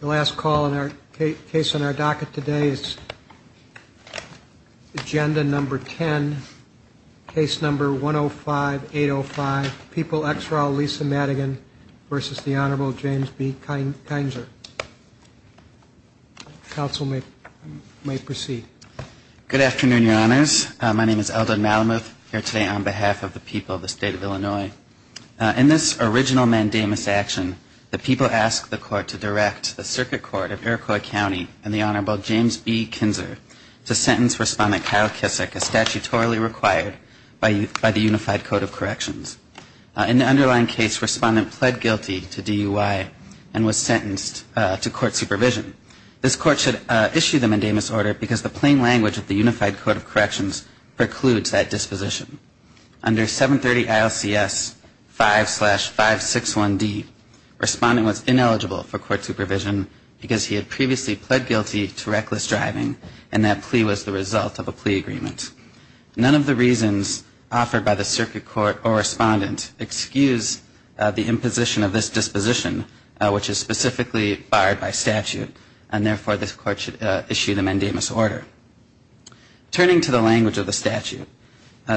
The last call in our case on our docket today is agenda number 10, case number 105805, people ex rel. Lisa Madigan v. the Honorable James B. Kinzer. Counsel may proceed. Good afternoon, your honors. My name is Eldon Malamuth here today on behalf of the people of the state of Illinois. In this original mandamus action, the people asked the court to direct the circuit court of Iroquois County and the Honorable James B. Kinzer to sentence Respondent Kyle Kissick as statutorily required by the Unified Code of Corrections. In the underlying case, Respondent pled guilty to DUI and was sentenced to court supervision. This court should issue the mandamus order because the plain language of the Unified Code of Corrections precludes that disposition. Under 730 ILCS 5-561D, Respondent was ineligible for court supervision because he had previously pled guilty to reckless driving and that plea was the result of a plea agreement. None of the reasons offered by the circuit court or Respondent excuse the imposition of this disposition, which is specifically barred by statute, and therefore this court should issue the mandamus order. Turning to the language of the statute,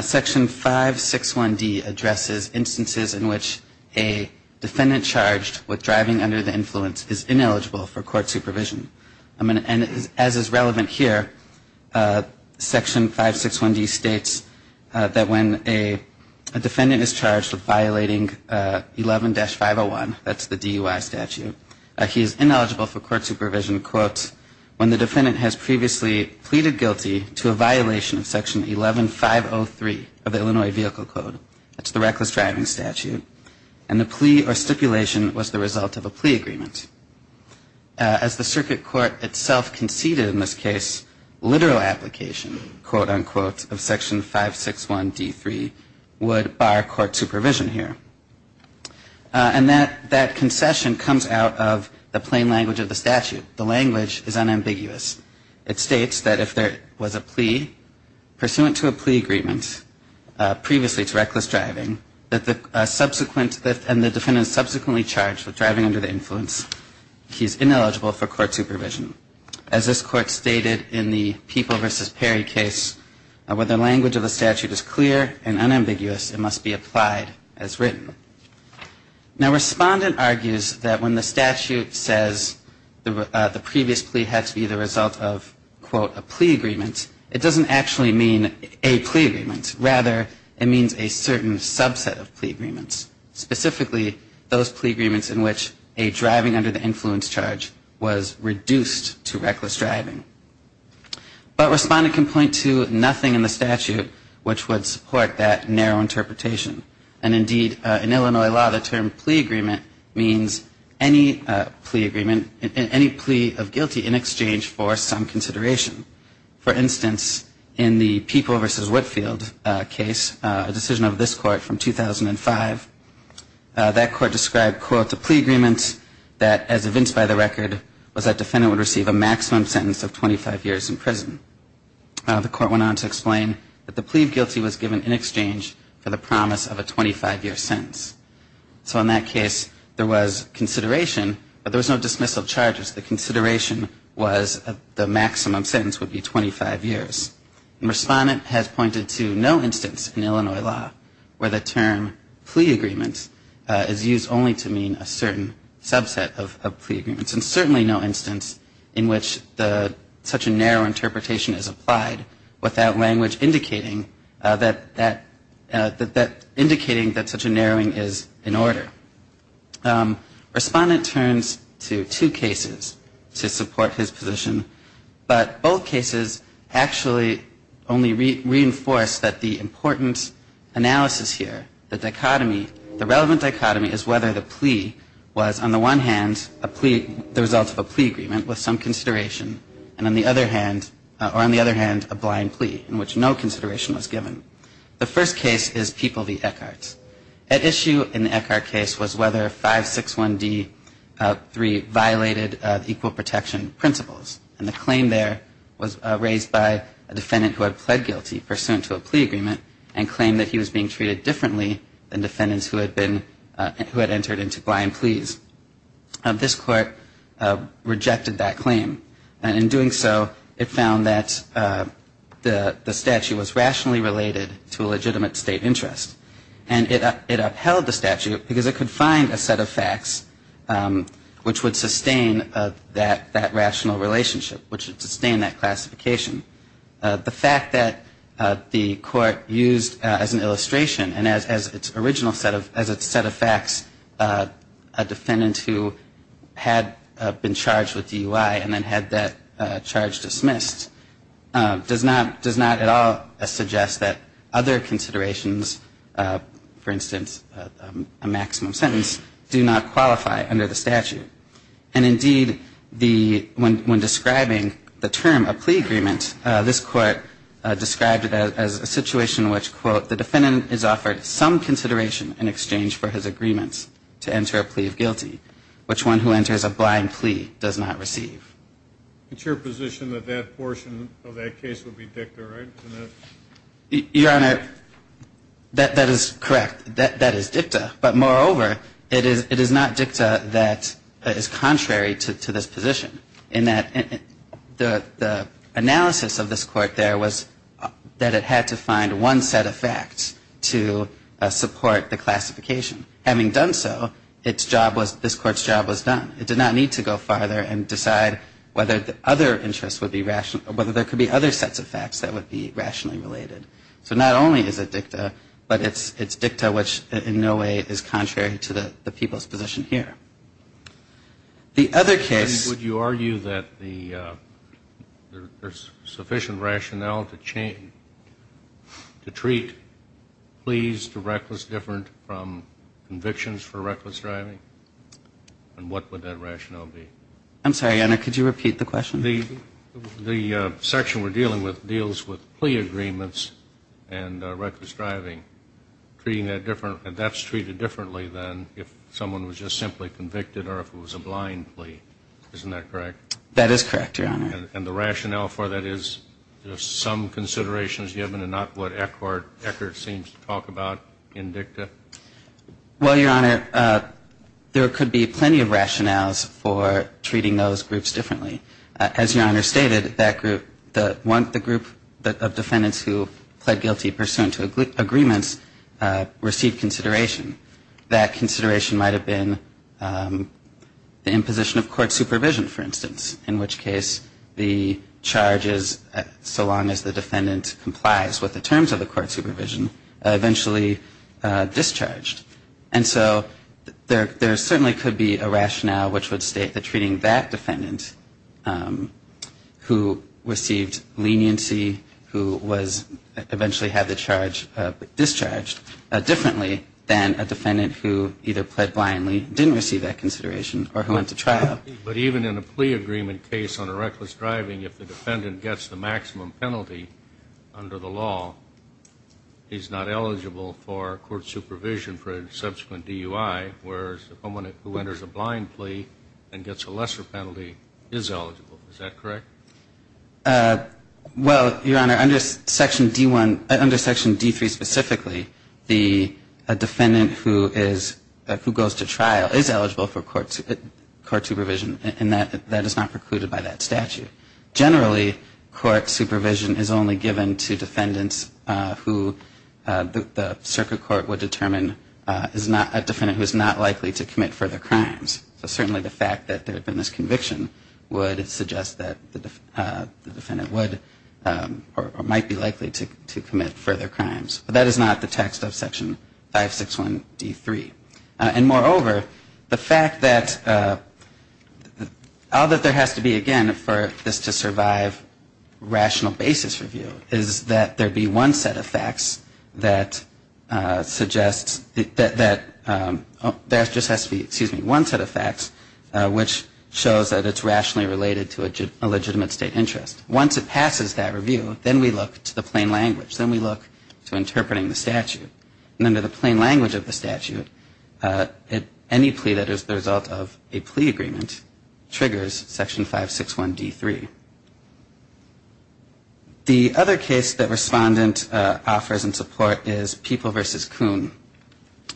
section 561D addresses instances in which a defendant charged with driving under the influence is ineligible for court supervision. And as is relevant here, section 561D states that when a defendant is charged with violating 11-501, that's the DUI statute, he is ineligible for court supervision. And the court should issue the mandamus order because the plaintiff has previously pleaded guilty to a violation of section 11-503 of the Illinois Vehicle Code, that's the reckless driving statute, and the plea or stipulation was the result of a plea agreement. As the circuit court itself conceded in this case, literal application, quote, unquote, of section 561D3 would bar court supervision here. And that concession comes out of the plain language of the statute. The language is unambiguous. It states that if there was a plea pursuant to a plea agreement previously to reckless driving, that the subsequent and the defendant subsequently charged with driving under the influence, he's ineligible for court supervision. As this court stated in the People v. Perry case, where the language of the statute is clear and unambiguous, it must be applied as written. Now, Respondent argues that when the statute says the previous plea had to be the result of, quote, a plea agreement, it doesn't actually mean a plea agreement. Rather, it means a certain subset of plea agreements, specifically those plea agreements in which a driving under the influence charge was reduced to reckless driving. But Respondent can point to nothing in the statute which would support that narrow interpretation. And indeed, in Illinois law, the term plea agreement means any plea of guilty in exchange for some consideration. For instance, in the People v. Whitfield case, a decision of this court from 2005, that court described, quote, the plea agreement that, as evinced by the record, was that the defendant would receive a maximum sentence of 25 years in prison. The court went on to explain that the plea of guilty was given in exchange for the promise of a 25-year sentence. So in that case, there was consideration, but there was no dismissal of charges. The consideration was the maximum sentence would be 25 years. And Respondent has pointed to no instance in Illinois law where the term plea agreement is used only to mean a certain subset of plea agreements. And certainly no instance in which such a narrow interpretation is applied without language indicating that such a narrowing is in order. Respondent turns to two cases to support his position. But both cases actually only reinforce that the important analysis here, the dichotomy, the relevant dichotomy, is whether the plea was, on the one hand, a plea agreement with some consideration, and on the other hand, or on the other hand, a blind plea in which no consideration was given. The first case is People v. Eckart. At issue in the Eckart case was whether 561D3 violated equal protection principles. And the claim there was raised by a defendant who had pled guilty pursuant to a plea agreement and claimed that he was being treated differently than defendants who had been, who had entered into blind pleas. This court rejected that claim. And in doing so, it found that the statute was rationally related to a legitimate state interest. And it upheld the statute because it could find a set of facts which would sustain that rational relationship, which would sustain that classification. The fact that the court used as an illustration and as its original set of, as its set of facts, a defendant who had pled guilty and a defendant who had been charged with DUI and then had that charge dismissed, does not at all suggest that other considerations, for instance, a maximum sentence, do not qualify under the statute. And indeed, when describing the term a plea agreement, this court described it as a situation in which, quote, the defendant is offered some consideration in which one who enters a blind plea does not receive. It's your position that that portion of that case would be dicta, right? Your Honor, that is correct. That is dicta. But moreover, it is not dicta that is contrary to this position in that the analysis of this court there was that it had to find one set of facts to support the fact that this court's job was done. It did not need to go farther and decide whether the other interest would be rational, whether there could be other sets of facts that would be rationally related. So not only is it dicta, but it's dicta which in no way is contrary to the people's position here. The other case ---- there's sufficient rationale to treat pleas to reckless different from convictions for reckless driving? And what would that rationale be? I'm sorry, Your Honor, could you repeat the question? The section we're dealing with deals with plea agreements and reckless driving. That's treated differently than if someone was just simply convicted or if it was a blind plea, isn't that correct? That is correct, Your Honor. And the rationale for that is there's some considerations given and not what Eckert seems to talk about in dicta? Well, Your Honor, there could be plenty of rationales for treating those groups differently. As Your Honor stated, that group, the group of defendants who pled guilty pursuant to agreements received consideration. That consideration might have been the imposition of court supervision, for instance, in which case the charges, so long as the defendant complies with the terms of the court supervision, eventually discharged. And so there certainly could be a rationale which would state that treating that defendant who received leniency, who eventually had the charge discharged, differently than a defendant who either pled blindly, didn't receive that consideration, or who went to trial. But even in a plea agreement case on a reckless driving, if the defendant gets the maximum penalty under the law, he's not eligible for court supervision for a subsequent DUI, whereas someone who enters a blind plea and gets a lesser penalty is eligible, is that correct? Well, Your Honor, under Section D1, under Section D3 specifically, the defendant who is, who goes to trial is eligible for court supervision, and that is not precluded by that statute. Generally, court supervision is only given to defendants who the circuit court would determine is not, a defendant who is not likely to commit further crimes. So certainly the fact that there had been this conviction would suggest that the defendant would, or might be likely to commit further crimes. But that is not the text of Section 561D3. And moreover, the fact that, all that there has to be, again, for this to survive rational basis review, is that there be one set of facts that suggests, that there just has to be, excuse me, one set of facts which shows that it's rationally related to a legitimate state interest. Once it passes that review, then we look to the plain language. Then we look to interpreting the statute. And under the plain language of the statute, any plea that is the result of a plea agreement triggers Section 561D3. The other case that Respondent offers in support is People v. Coon.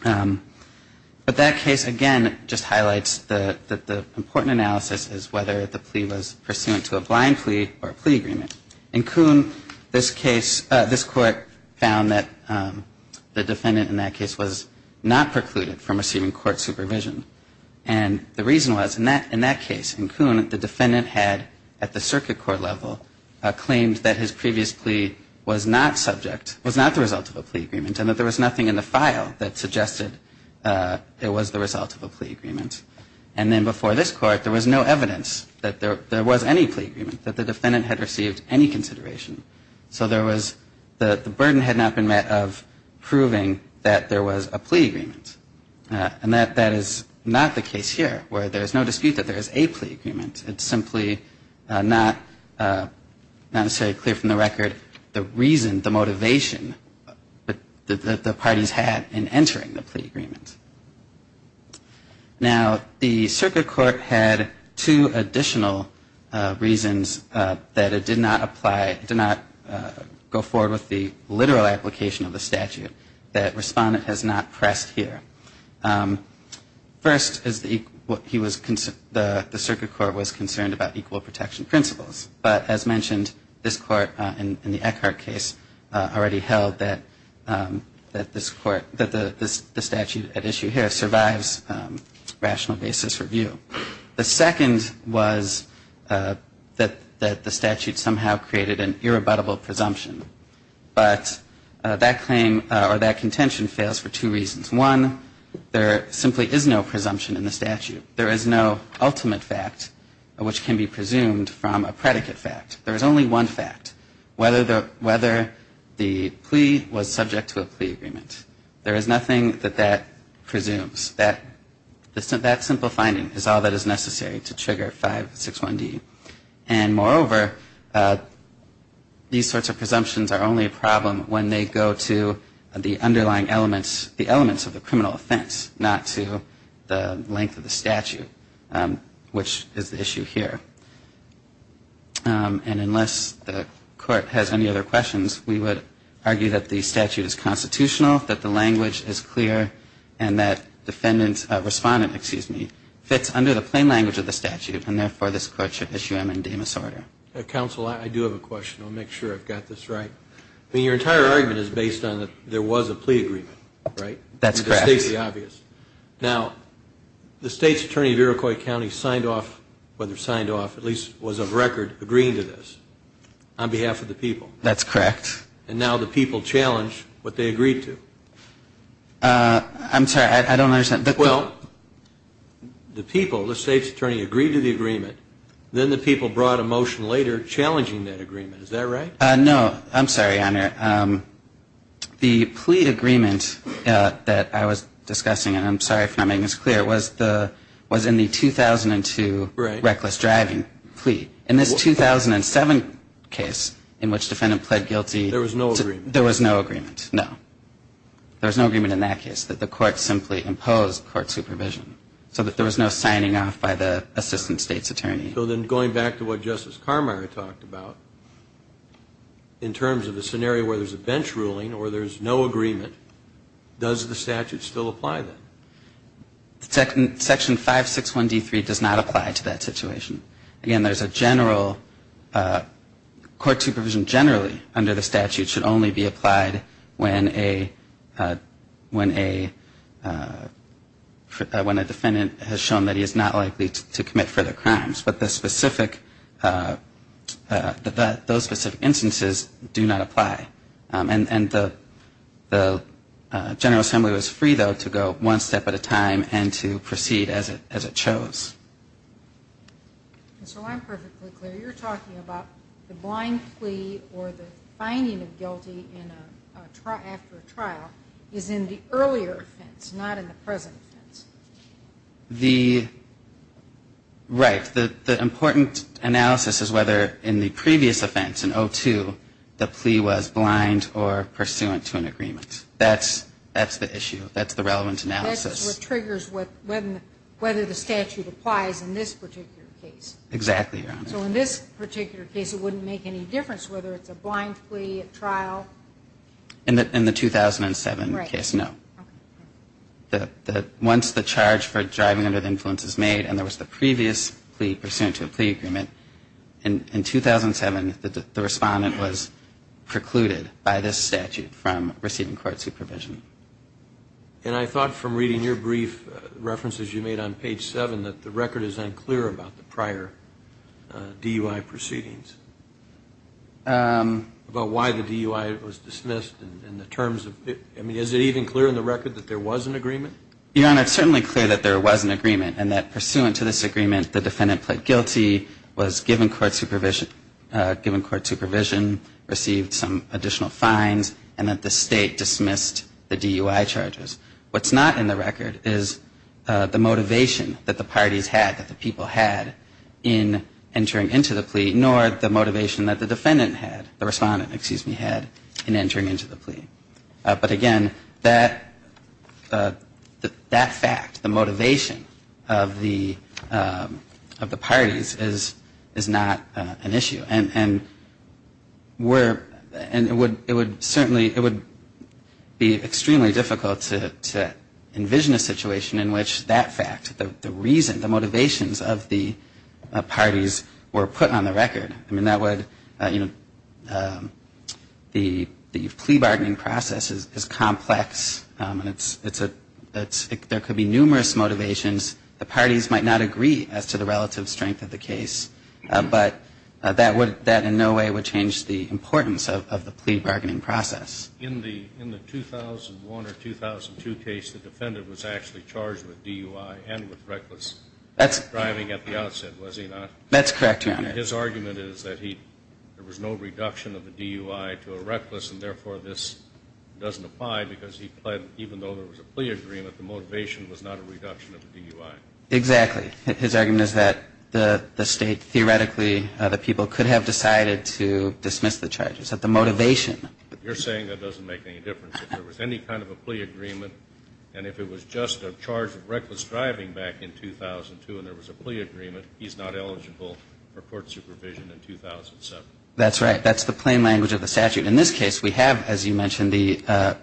But that case, again, just highlights that the important analysis is whether the plea was pursuant to a blind plea or a plea agreement. In Coon, this case, this court found that the defendant in that case was not precluded from receiving court supervision. And the reason was, in that case, in Coon, the defendant had, at the circuit court level, claimed that his previous plea was not subject, was not the result of a plea agreement, and that there was nothing in the file that suggested it was the result of a plea agreement. And then before this court, there was no evidence that there was any plea agreement, that the defendant had received any consideration. So there was, the burden had not been met of proving that there was a plea agreement. And that is not the case here, where there is no dispute that there is a plea agreement. It's simply not necessarily clear from the record the reason, the motivation, that the parties had in entering the plea agreement. Now, the circuit court had two additional reasons that it did not apply, did not go forward with the literal application of the statute that Respondent has not pressed here. First, the circuit court was concerned about equal protection principles. But as mentioned, this court, in the Eckhart case, already held that this court, that the statute at issue here survives rational basis review. The second was that the statute somehow created an irrebuttable presumption. But that claim, or that contention, fails for two reasons. One, there simply is no presumption in the statute. There is no ultimate fact which can be presumed from a predicate fact. There is only one fact, whether the plea was subject to a plea agreement. There is nothing that that presumes. That simple finding is all that is necessary to trigger 561D. And moreover, these sorts of presumptions are only a problem when they go to the underlying elements, the elements of the criminal offense, not to the length of the statute, which is the issue here. And unless the court has any other questions, we would argue that the statute is constitutional, that the language is clear, and that defendant's respondent, excuse me, fits under the plain language of the statute. And therefore, this court should issue an indemnis order. Counsel, I do have a question. I'll make sure I've got this right. I mean, your entire argument is based on that there was a plea agreement, right? That's correct. And the State's the obvious. Now, the State's Attorney of Iroquois County signed off, whether signed off, at least was of record agreeing to this on behalf of the people. That's correct. And now the people challenge what they agreed to. I'm sorry. I don't understand. Well, the people, the State's Attorney, agreed to the agreement. Then the people brought a motion later challenging that agreement. Is that right? No. I'm sorry, Your Honor. The plea agreement that I was discussing, and I'm sorry for not making this clear, was in the 2002 reckless driving plea. In this 2007 case in which defendant pled guilty, there was no agreement. There was no agreement. No. There was no agreement in that case that the court simply imposed court supervision so that there was no signing off by the Assistant State's Attorney. So then going back to what Justice Carmire talked about, in terms of the scenario where there's a bench ruling or there's no agreement, does the statute still apply then? Section 561d3 does not apply to that situation. Again, there's a general court supervision generally under the statute should only be applied when a defendant has shown that he is not likely to commit further crimes. But those specific instances do not apply. And the General Assembly was free, though, to go one step at a time and to proceed as it chose. So I'm perfectly clear. You're talking about the blind plea or the finding of guilty after a trial is in the earlier offense, not in the present offense. Right. Correct. The important analysis is whether in the previous offense, in 02, the plea was blind or pursuant to an agreement. That's the issue. That's the relevant analysis. That's what triggers whether the statute applies in this particular case. Exactly, Your Honor. So in this particular case, it wouldn't make any difference whether it's a blind plea, a trial. In the 2007 case, no. Right. Once the charge for driving under the influence is made and there was the previous plea pursuant to a plea agreement, in 2007, the respondent was precluded by this statute from receiving court supervision. And I thought from reading your brief references you made on page 7 that the record is unclear about the prior DUI proceedings, about why the DUI was dismissed and the terms of it. I mean, is it even clear in the record that there was an agreement? Your Honor, it's certainly clear that there was an agreement and that pursuant to this agreement, the defendant pled guilty, was given court supervision, received some additional fines, and that the State dismissed the DUI charges. What's not in the record is the motivation that the parties had, that the people had in entering into the plea, nor the motivation that the defendant had, the respondent, excuse me, had in entering into the plea. But again, that fact, the motivation of the parties is not an issue. And it would certainly be extremely difficult to envision a situation in which that fact, the reason, the motivations of the parties were put on the record. I mean, that would, you know, the plea bargaining process is complex. There could be numerous motivations. The parties might not agree as to the relative strength of the case. But that in no way would change the importance of the plea bargaining process. In the 2001 or 2002 case, the defendant was actually charged with DUI and with reckless driving at the outset, was he not? That's correct, Your Honor. And his argument is that he, there was no reduction of the DUI to a reckless, and therefore this doesn't apply because he pled, even though there was a plea agreement, the motivation was not a reduction of the DUI. Exactly. His argument is that the State theoretically, the people could have decided to dismiss the charges, that the motivation. You're saying that doesn't make any difference. If there was any kind of a plea agreement, and if it was just a charge of reckless driving back in 2002 and there was a plea agreement, he's not eligible for court supervision in 2007. That's right. That's the plain language of the statute. In this case, we have, as you mentioned, the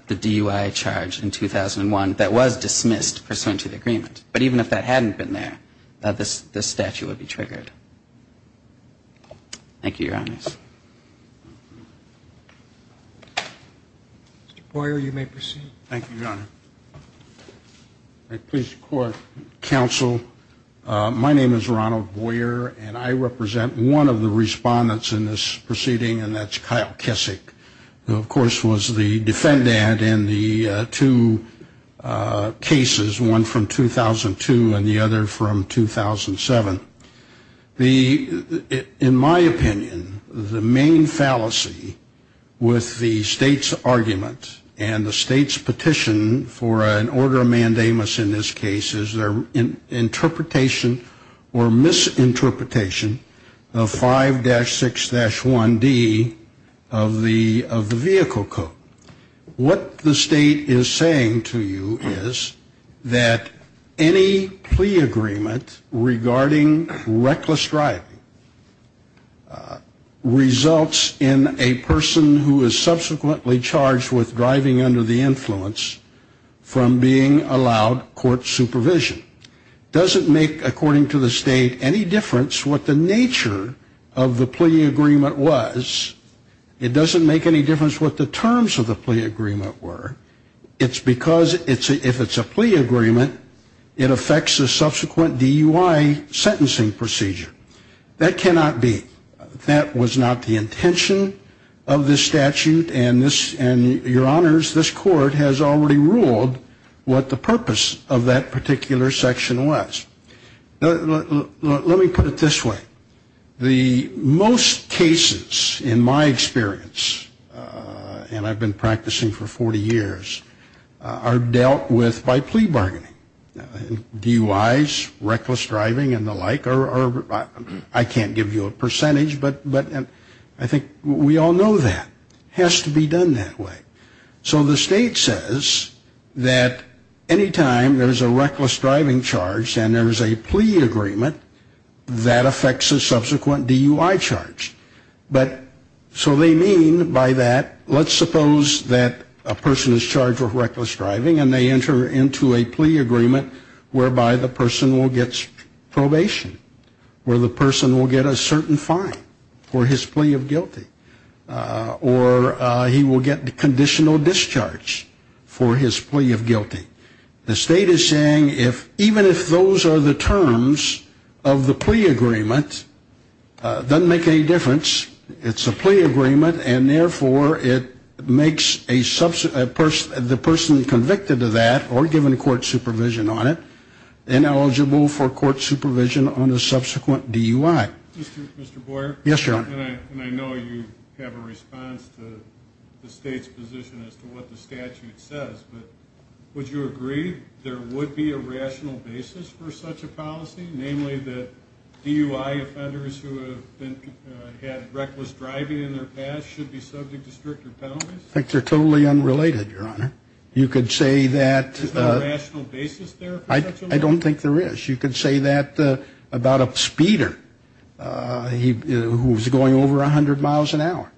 DUI charge in 2001 that was dismissed pursuant to the agreement. But even if that hadn't been there, this statute would be triggered. Thank you, Your Honors. Mr. Boyer, you may proceed. Thank you, Your Honor. Please record, counsel. My name is Ronald Boyer, and I represent one of the respondents in this proceeding, and that's Kyle Kissick, who, of course, was the defendant in the two cases, one from 2002 and the other from 2007. In my opinion, the main fallacy with the State's argument and the State's petition for an order of mandamus in this case is their interpretation or misinterpretation of 5-6-1D of the vehicle code. What the State is saying to you is that any plea agreement regarding reckless driving results in a person who is subsequently charged with driving under the influence from being allowed court supervision. It doesn't make, according to the State, any difference what the nature of the plea agreement was. It doesn't make any difference what the terms of the plea agreement were. It's because if it's a plea agreement, it affects the subsequent DUI sentencing procedure. That cannot be. That was not the intention of this statute, and, Your Honors, this Court has already ruled what the purpose of that particular section was. Let me put it this way. The most cases, in my experience, and I've been practicing for 40 years, are dealt with by plea bargaining. DUIs, reckless driving, and the like, I can't give you a percentage, but I think we all know that. It has to be done that way. So the State says that any time there's a reckless driving charge and there's a plea agreement, that affects a subsequent DUI charge. So they mean by that, let's suppose that a person is charged with reckless driving and they enter into a plea agreement whereby the person will get probation, where the person will get a certain fine for his plea of guilty, or he will get conditional discharge for his plea of guilty. The State is saying even if those are the terms of the plea agreement, it doesn't make any difference. It's a plea agreement, and, therefore, it makes the person convicted of that or given court supervision on it ineligible for court supervision on a subsequent DUI. Mr. Boyer? Yes, Your Honor. And I know you have a response to the State's position as to what the statute says, but would you agree there would be a rational basis for such a policy, namely that DUI offenders who have had reckless driving in their past should be subject to stricter penalties? I think they're totally unrelated, Your Honor. You could say that. There's no rational basis there for such a policy? I don't think there is. You could say that about a speeder who's going over 100 miles an hour.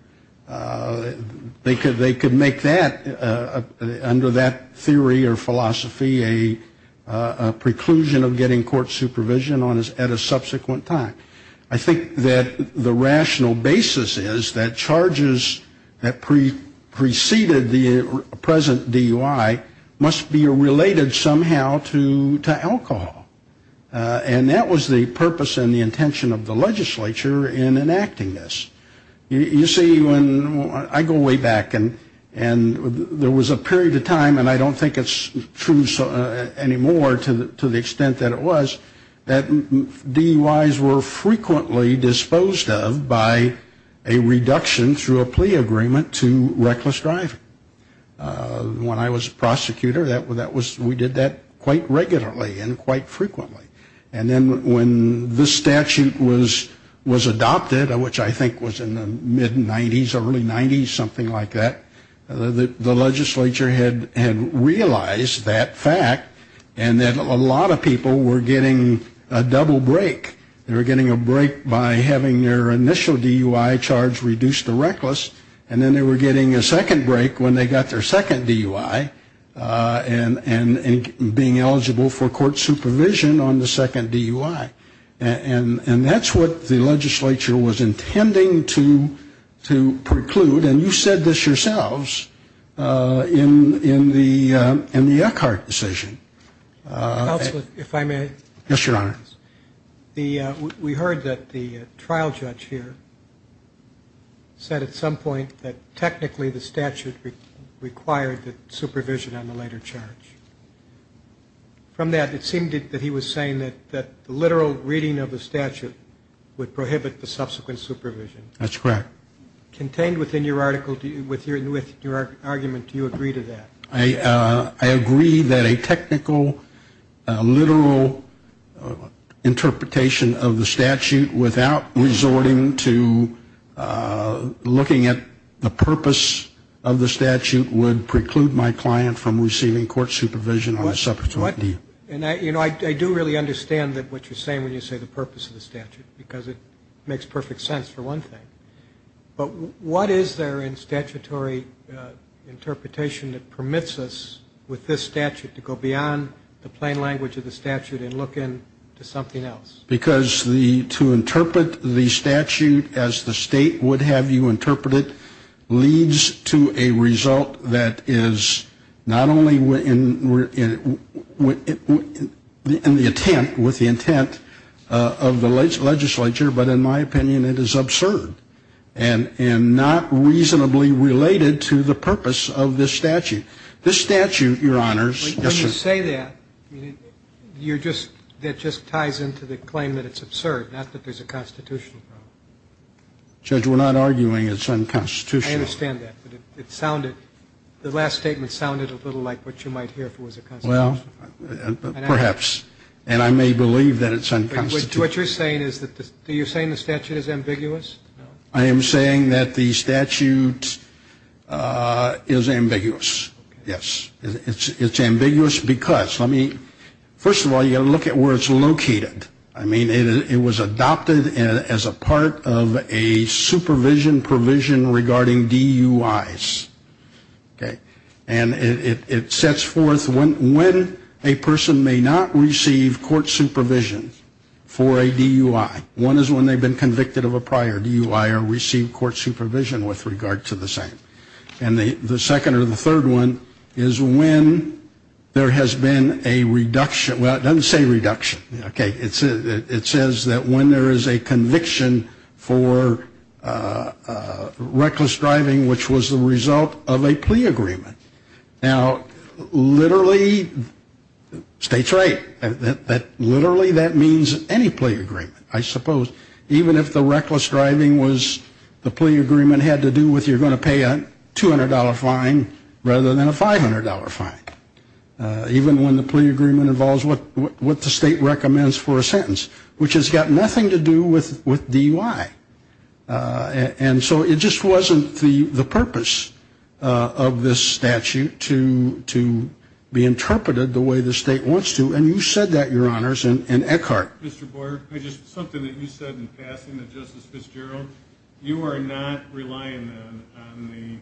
They could make that, under that theory or philosophy, a preclusion of getting court supervision at a subsequent time. I think that the rational basis is that charges that preceded the present DUI must be related somehow to alcohol. And that was the purpose and the intention of the legislature in enacting this. You see, when I go way back, and there was a period of time, and I don't think it's true anymore to the extent that it was, that DUIs were frequently disposed of by a reduction through a plea agreement to reckless driving. When I was a prosecutor, we did that quite regularly and quite frequently. And then when this statute was adopted, which I think was in the mid-90s, early 90s, something like that, the legislature had realized that fact and that a lot of people were getting a double break. They were getting a break by having their initial DUI charge reduce the reckless, and then they were getting a second break when they got their second DUI and being eligible for court supervision on the second DUI. And that's what the legislature was intending to preclude. And you said this yourselves in the Eckhart decision. Counsel, if I may. Yes, Your Honor. We heard that the trial judge here said at some point that technically the statute required supervision on the later charge. From that, it seemed that he was saying that the literal reading of the statute would prohibit the subsequent supervision. That's correct. Contained within your argument, do you agree to that? I agree that a technical, literal interpretation of the statute without resorting to looking at the purpose of the statute would preclude my client from receiving court supervision on a subsequent DUI. And, you know, I do really understand what you're saying when you say the purpose of the statute, because it makes perfect sense, for one thing. But what is there in statutory interpretation that permits us with this statute to go beyond the plain language of the statute and look into something else? Because to interpret the statute as the state would have you interpret it leads to a result that is not only in the intent, with the intent of the legislature, but in my opinion it is absurd and not reasonably related to the purpose of this statute. This statute, Your Honors, When you say that, that just ties into the claim that it's absurd, not that there's a constitutional problem. Judge, we're not arguing it's unconstitutional. I understand that. But it sounded, the last statement sounded a little like what you might hear if it was a constitutional problem. Well, perhaps. And I may believe that it's unconstitutional. What you're saying is, are you saying the statute is ambiguous? I am saying that the statute is ambiguous. Yes. It's ambiguous because, I mean, first of all, you've got to look at where it's located. I mean, it was adopted as a part of a supervision provision regarding DUIs. And it sets forth when a person may not receive court supervision for a DUI. One is when they've been convicted of a prior DUI or received court supervision with regard to the same. And the second or the third one is when there has been a reduction. Well, it doesn't say reduction. Okay. It says that when there is a conviction for reckless driving, which was the result of a plea agreement. Now, literally, State's right, that literally that means any plea agreement, I suppose. Even if the reckless driving was the plea agreement had to do with you're going to pay a $200 fine rather than a $500 fine. Even when the plea agreement involves what the State recommends for a sentence, which has got nothing to do with DUI. And so it just wasn't the purpose of this statute to be interpreted the way the State wants to. And you said that, Your Honors, in Eckhart. Mr. Boyer, just something that you said in passing to Justice Fitzgerald. You are not relying on the,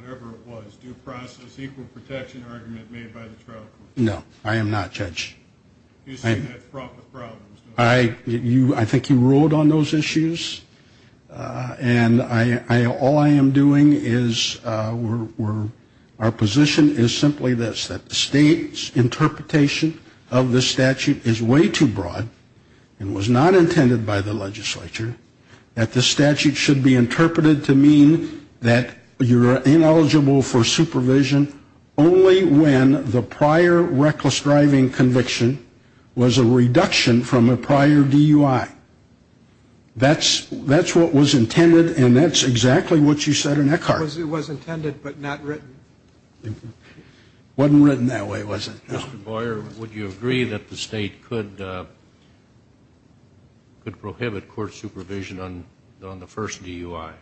whatever it was, due process equal protection argument made by the trial court. No, I am not, Judge. You seem to have problems. I think you ruled on those issues. And all I am doing is our position is simply this, that the State's interpretation of this statute is way too broad and was not intended by the legislature, that the statute should be interpreted to mean that you're ineligible for supervision only when the prior reckless driving conviction was a reduction from a prior DUI. That's what was intended, and that's exactly what you said in Eckhart. It was intended, but not written. It wasn't written that way, was it? Mr. Boyer, would you agree that the State could prohibit court supervision on the first DUI,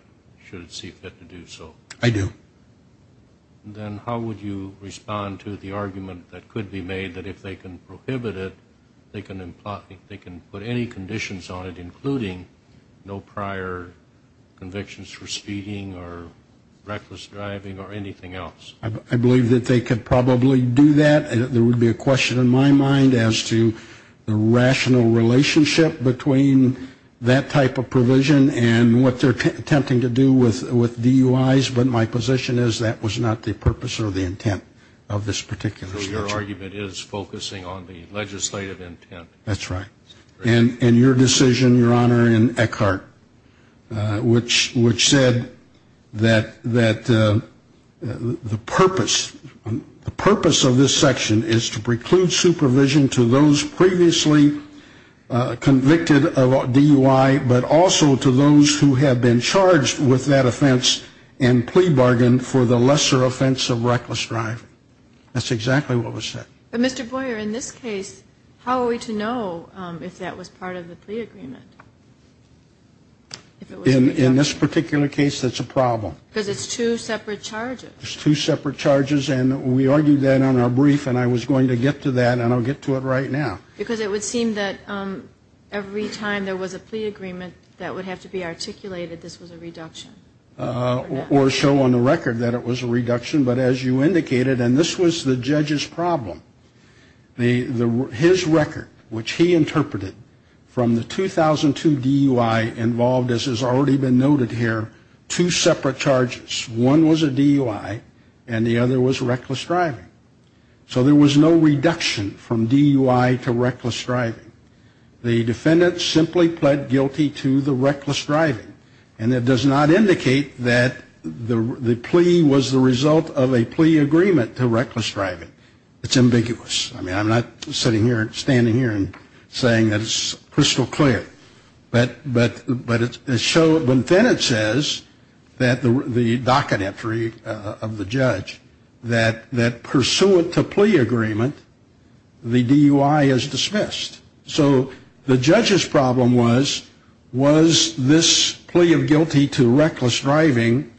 should it see fit to do so? I do. Then how would you respond to the argument that could be made that if they can prohibit it, they can put any conditions on it, including no prior convictions for speeding or reckless driving or anything else? I believe that they could probably do that. There would be a question in my mind as to the rational relationship between that type of provision and what they're attempting to do with DUIs, but my position is that was not the purpose or the intent of this particular statute. So your argument is focusing on the legislative intent. That's right. And your decision, Your Honor, in Eckhart, which said that the purpose of this section is to preclude supervision to those previously convicted of DUI, but also to those who have been charged with that offense and plea bargained for the lesser offense of reckless driving. That's exactly what was said. But, Mr. Boyer, in this case, how are we to know if that was part of the plea agreement? In this particular case, that's a problem. Because it's two separate charges. It's two separate charges, and we argued that on our brief, and I was going to get to that, and I'll get to it right now. Because it would seem that every time there was a plea agreement that would have to be articulated, this was a reduction. Or show on the record that it was a reduction. But as you indicated, and this was the judge's problem, his record, which he interpreted, from the 2002 DUI involved, as has already been noted here, two separate charges. One was a DUI, and the other was reckless driving. So there was no reduction from DUI to reckless driving. The defendant simply pled guilty to the reckless driving. And it does not indicate that the plea was the result of a plea agreement to reckless driving. It's ambiguous. I mean, I'm not standing here and saying that it's crystal clear. But then it says that the docket entry of the judge, that pursuant to plea agreement, the DUI is dismissed. So the judge's problem was, was this plea of guilty to reckless driving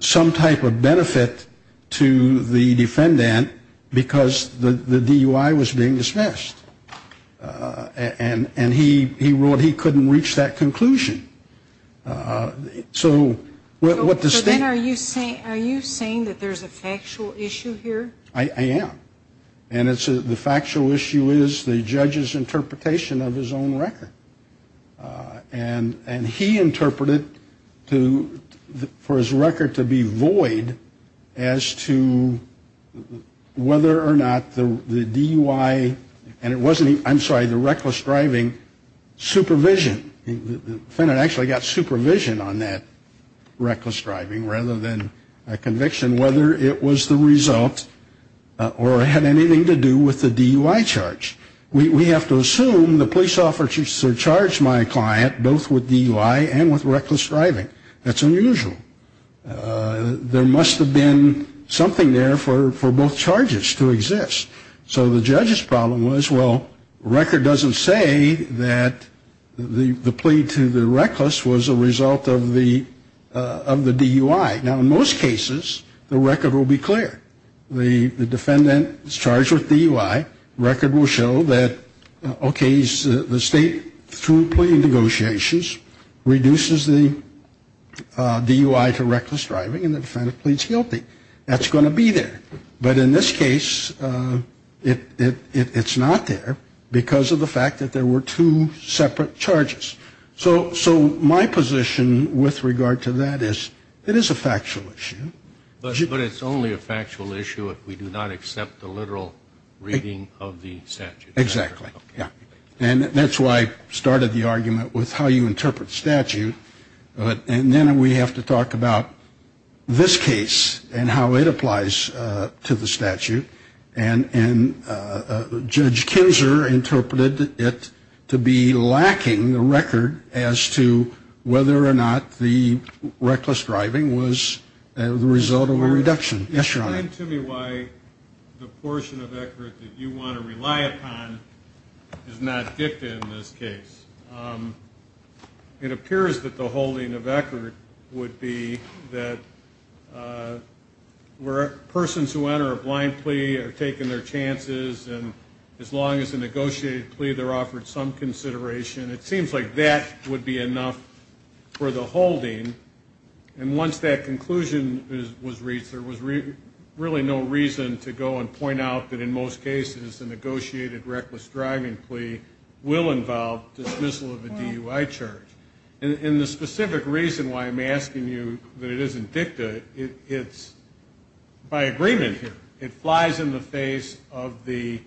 some type of benefit to the defendant because the DUI was being dismissed? And he ruled he couldn't reach that conclusion. So what the state ‑‑ So then are you saying that there's a factual issue here? I am. And the factual issue is the judge's interpretation of his own record. And he interpreted for his record to be void as to whether or not the DUI, and it wasn't ‑‑ I'm sorry, the reckless driving supervision. The defendant actually got supervision on that reckless driving rather than a conviction whether it was the result or had anything to do with the DUI charge. We have to assume the police officer charged my client both with DUI and with reckless driving. That's unusual. There must have been something there for both charges to exist. So the judge's problem was, well, record doesn't say that the plea to the reckless was a result of the DUI. Now, in most cases, the record will be clear. The defendant is charged with DUI. Record will show that, okay, the state through plea negotiations reduces the DUI to reckless driving and the defendant pleads guilty. That's going to be there. But in this case, it's not there because of the fact that there were two separate charges. So my position with regard to that is it is a factual issue. But it's only a factual issue if we do not accept the literal reading of the statute. Exactly. Yeah. And that's why I started the argument with how you interpret statute. And then we have to talk about this case and how it applies to the statute. And Judge Kinzer interpreted it to be lacking the record as to whether or not the reckless driving was the result of a reduction. Yes, Your Honor. Explain to me why the portion of record that you want to rely upon is not gifted in this case. It appears that the holding of record would be that persons who enter a blind plea are taking their chances, and as long as the negotiated plea, they're offered some consideration. It seems like that would be enough for the holding. And once that conclusion was reached, there was really no reason to go and point out that in most cases a negotiated reckless driving plea will involve dismissal of a DUI charge. And the specific reason why I'm asking you that it isn't dicta, it's by agreement here. It flies in the face of the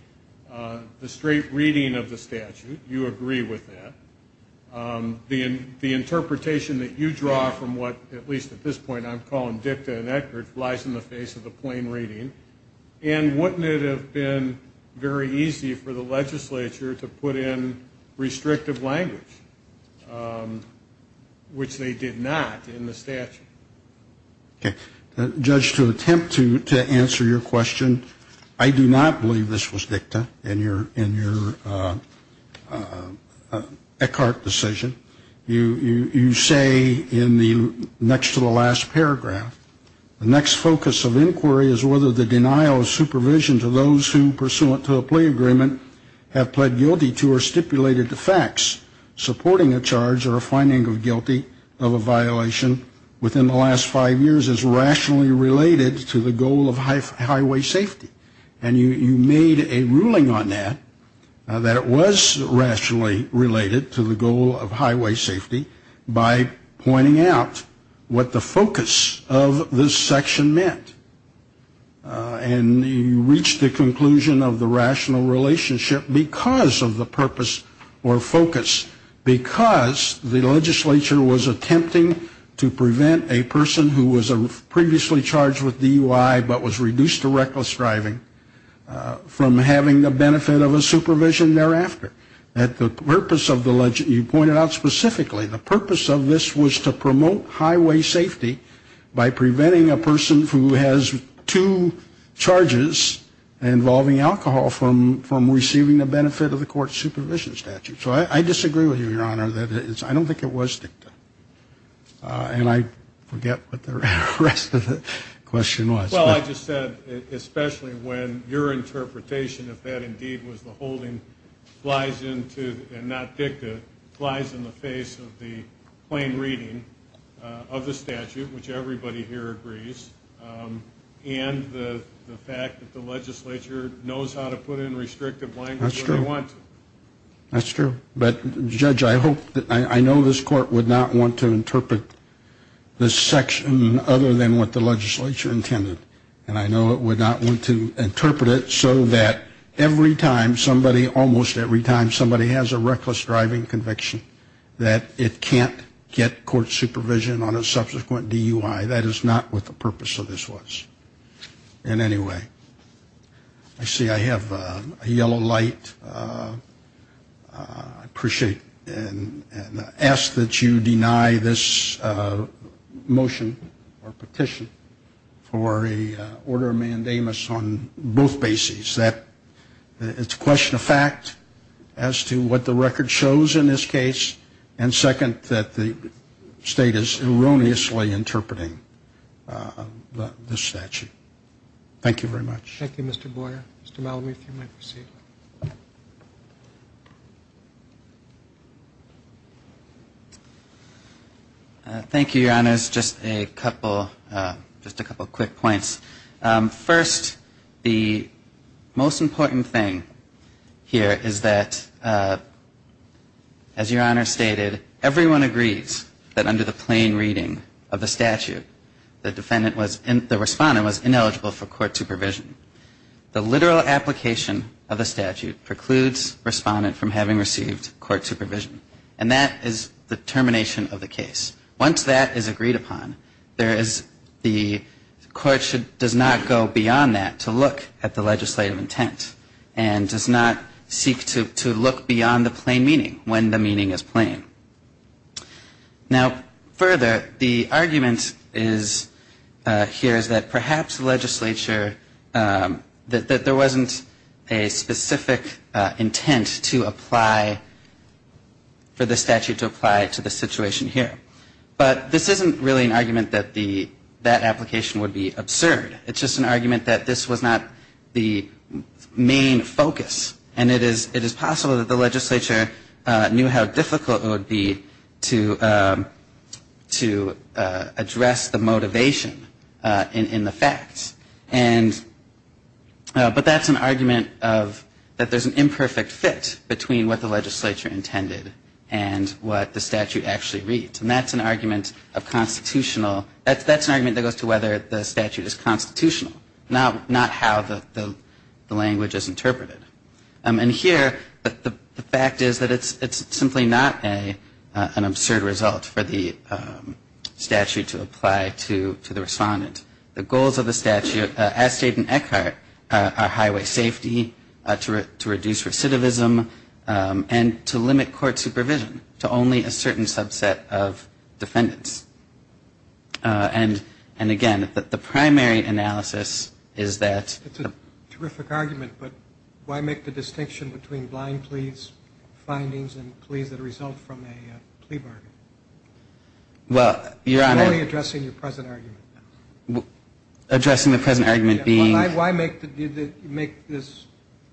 straight reading of the statute. You agree with that. The interpretation that you draw from what, at least at this point, I'm calling dicta in that group, lies in the face of the plain reading. And wouldn't it have been very easy for the legislature to put in restrictive language, which they did not in the statute? Okay. Judge, to attempt to answer your question, I do not believe this was dicta in your Eckhart decision. You say in the next to the last paragraph, the next focus of inquiry is whether the denial of supervision to those who, pursuant to a plea agreement, have pled guilty to or stipulated the facts supporting a charge or a finding of guilty of a violation within the last five years is rationally related to the goal of highway safety. And you made a ruling on that, that it was rationally related to the goal of highway safety, by pointing out what the focus of this section meant. And you reached the conclusion of the rational relationship because of the purpose or focus, because the legislature was attempting to prevent a person who was previously charged with DUI, but was reduced to reckless driving, from having the benefit of a supervision thereafter. The purpose of the, you pointed out specifically, the purpose of this was to promote highway safety by preventing a person who has two charges involving alcohol from receiving the benefit of the court supervision statute. So I disagree with you, Your Honor. I don't think it was dicta. And I forget what the rest of the question was. Well, I just said, especially when your interpretation of that indeed was the holding flies into, and not dicta, flies in the face of the plain reading of the statute, which everybody here agrees, and the fact that the legislature knows how to put in restrictive language where they want to. That's true. But, Judge, I hope, I know this court would not want to interpret this section other than what the legislature intended. And I know it would not want to interpret it so that every time somebody, almost every time somebody has a reckless driving conviction, that it can't get court supervision on a subsequent DUI. That is not what the purpose of this was. And anyway, I see I have a yellow light. I appreciate and ask that you deny this motion or petition for a order mandamus on both bases. That is a question of fact as to what the record shows in this case, and second, that the state is erroneously interpreting this statute. Thank you very much. Thank you, Mr. Boyer. Mr. Mallamy, if you might proceed. Thank you, Your Honors. Just a couple quick points. First, the most important thing here is that, as Your Honor stated, everyone agrees that under the plain reading of the statute, the defendant was, the respondent was ineligible for court supervision. The literal application of the statute precludes respondent from having received court supervision. And that is the termination of the case. Once that is agreed upon, the court does not go beyond that to look at the legislative intent and does not seek to look beyond the plain meaning when the meaning is plain. Now, further, the argument here is that perhaps the legislature, that there wasn't a specific intent to apply for the statute to apply to the situation here. But this isn't really an argument that that application would be absurd. It's just an argument that this was not the main focus. And it is possible that the legislature knew how difficult it would be to address the motivation in the facts. But that's an argument that there's an imperfect fit between what the legislature intended and what the statute actually reads. And that's an argument of constitutional, that's an argument that goes to whether the statute is constitutional, not how the language is interpreted. And here, the fact is that it's simply not an absurd result for the statute to apply to the respondent. The goals of the statute, as stated in Eckhart, are highway safety, to reduce recidivism, and to limit court supervision to only a certain subset of defendants. And, again, the primary analysis is that... It's a terrific argument, but why make the distinction between blind pleas, findings, and pleas that result from a plea bargain? Well, Your Honor... You're only addressing your present argument. Addressing the present argument being... Why make this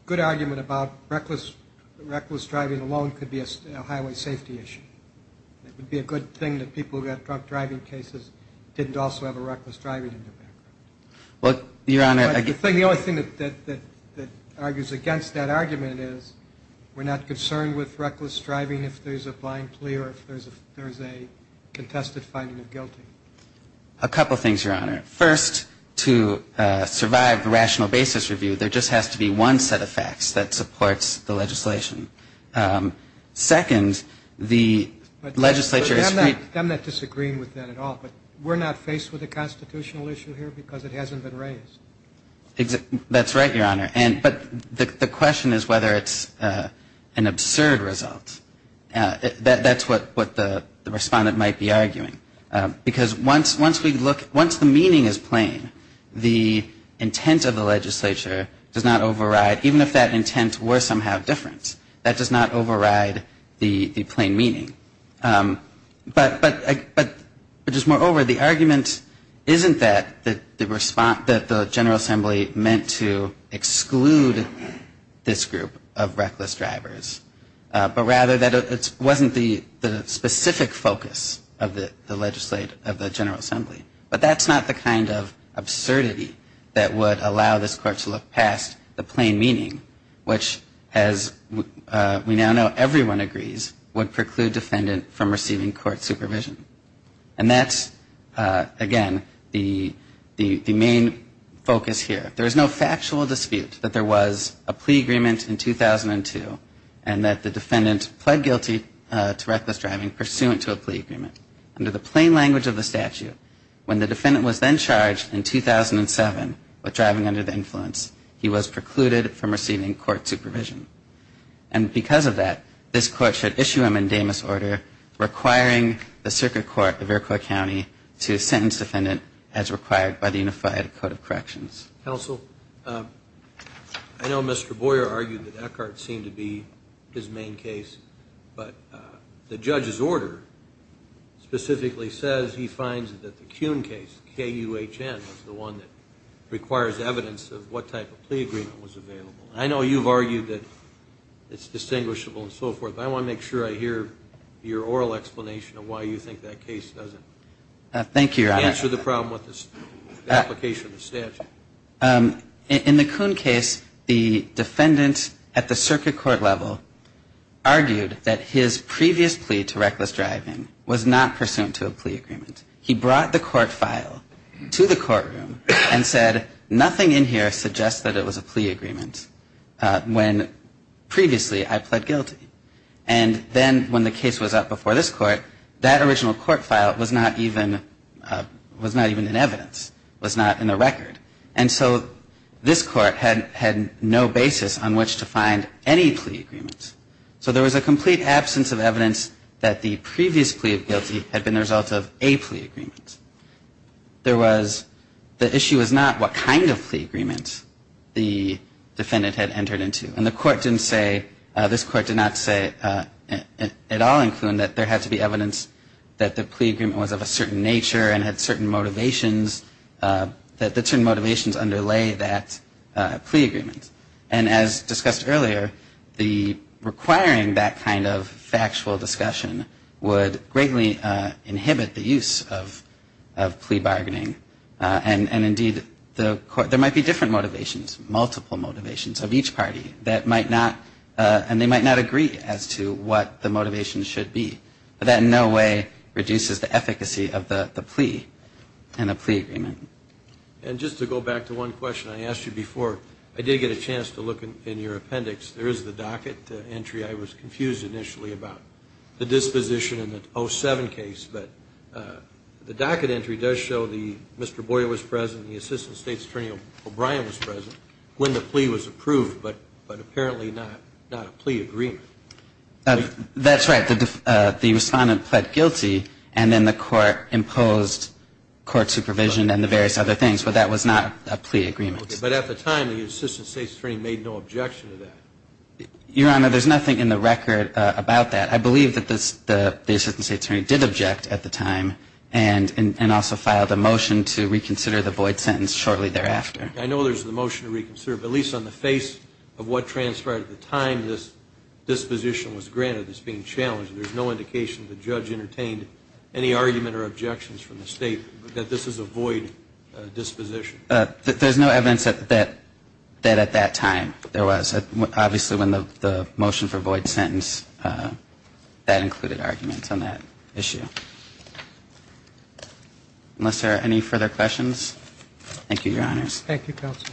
good argument about reckless driving alone could be a highway safety issue? It would be a good thing that people who got drunk driving cases didn't also have a reckless driving in their background. Well, Your Honor... The only thing that argues against that argument is we're not concerned with reckless driving if there's a blind plea or if there's a contested finding of guilty. A couple things, Your Honor. First, to survive the rational basis review, there just has to be one set of facts that supports the legislation. Second, the legislature... I'm not disagreeing with that at all, but we're not faced with a constitutional issue here because it hasn't been raised. That's right, Your Honor. But the question is whether it's an absurd result. That's what the respondent might be arguing. Because once the meaning is plain, the intent of the legislature does not override... Even if that intent were somehow different, that does not override the plain meaning. But just moreover, the argument isn't that the General Assembly meant to exclude this group of reckless drivers, but rather that it wasn't the specific focus of the General Assembly. But that's not the kind of absurdity that would allow this Court to look past the plain meaning, which, as we now know everyone agrees, would preclude defendant from receiving court supervision. And that's, again, the main focus here. There is no factual dispute that there was a plea agreement in 2002, and that the defendant pled guilty to reckless driving pursuant to a plea agreement. Under the plain language of the statute, when the defendant was then charged in 2007 with driving under the influence, he was precluded from receiving court supervision. And because of that, this Court should issue a mandamus order requiring the Circuit Court of Iroquois County to sentence the defendant as required by the Unified Code of Corrections. Counsel, I know Mr. Boyer argued that Eckhart seemed to be his main case, but the judge's order specifically says he finds that the Kuhn case, K-U-H-N, was the one that requires evidence of what type of plea agreement was available. I know you've argued that it's distinguishable and so forth, but I want to make sure I hear your oral explanation of why you think that case doesn't answer the problem with the application of the statute. In the Kuhn case, the defendant at the Circuit Court level argued that his previous plea to reckless driving was not pursuant to a plea agreement. He brought the court file to the courtroom and said, nothing in here suggests that it was a plea agreement when previously I pled guilty. And then when the case was up before this Court, that original court file was not even in evidence, was not in the record. And so this Court had no basis on which to find any plea agreements. So there was a complete absence of evidence that the previous plea of guilty had been the result of a plea agreement. There was, the issue was not what kind of plea agreement the defendant had entered into. And the Court didn't say, this Court did not say at all include that there had to be evidence that the plea agreement was of a certain nature and had certain motivations, that certain motivations underlay that plea agreement. And as discussed earlier, the requiring that kind of factual discussion would greatly inhibit the use of plea bargaining. And indeed, there might be different motivations, multiple motivations of each party that might not, and they might not agree as to what the motivation should be. But that in no way reduces the efficacy of the plea and the plea agreement. And just to go back to one question I asked you before, I did get a chance to look in your appendix. There is the docket entry. I was confused initially about the disposition in the 07 case. But the docket entry does show Mr. Boyer was present and the Assistant State's Attorney O'Brien was present when the plea was approved, but apparently not a plea agreement. That's right. The Respondent pled guilty, and then the Court imposed court supervision and the various other things. But that was not a plea agreement. But at the time, the Assistant State's Attorney made no objection to that. Your Honor, there's nothing in the record about that. I believe that the Assistant State's Attorney did object at the time and also filed a motion to reconsider the void sentence shortly thereafter. I know there's a motion to reconsider, but at least on the face of what transpired at the time this disposition was granted, this being challenged, there's no indication the judge entertained any argument or objections from the State that this is a void disposition. There's no evidence that at that time there was. Obviously, when the motion for void sentence, that included arguments on that issue. Unless there are any further questions, thank you, Your Honors. Thank you, Counsel.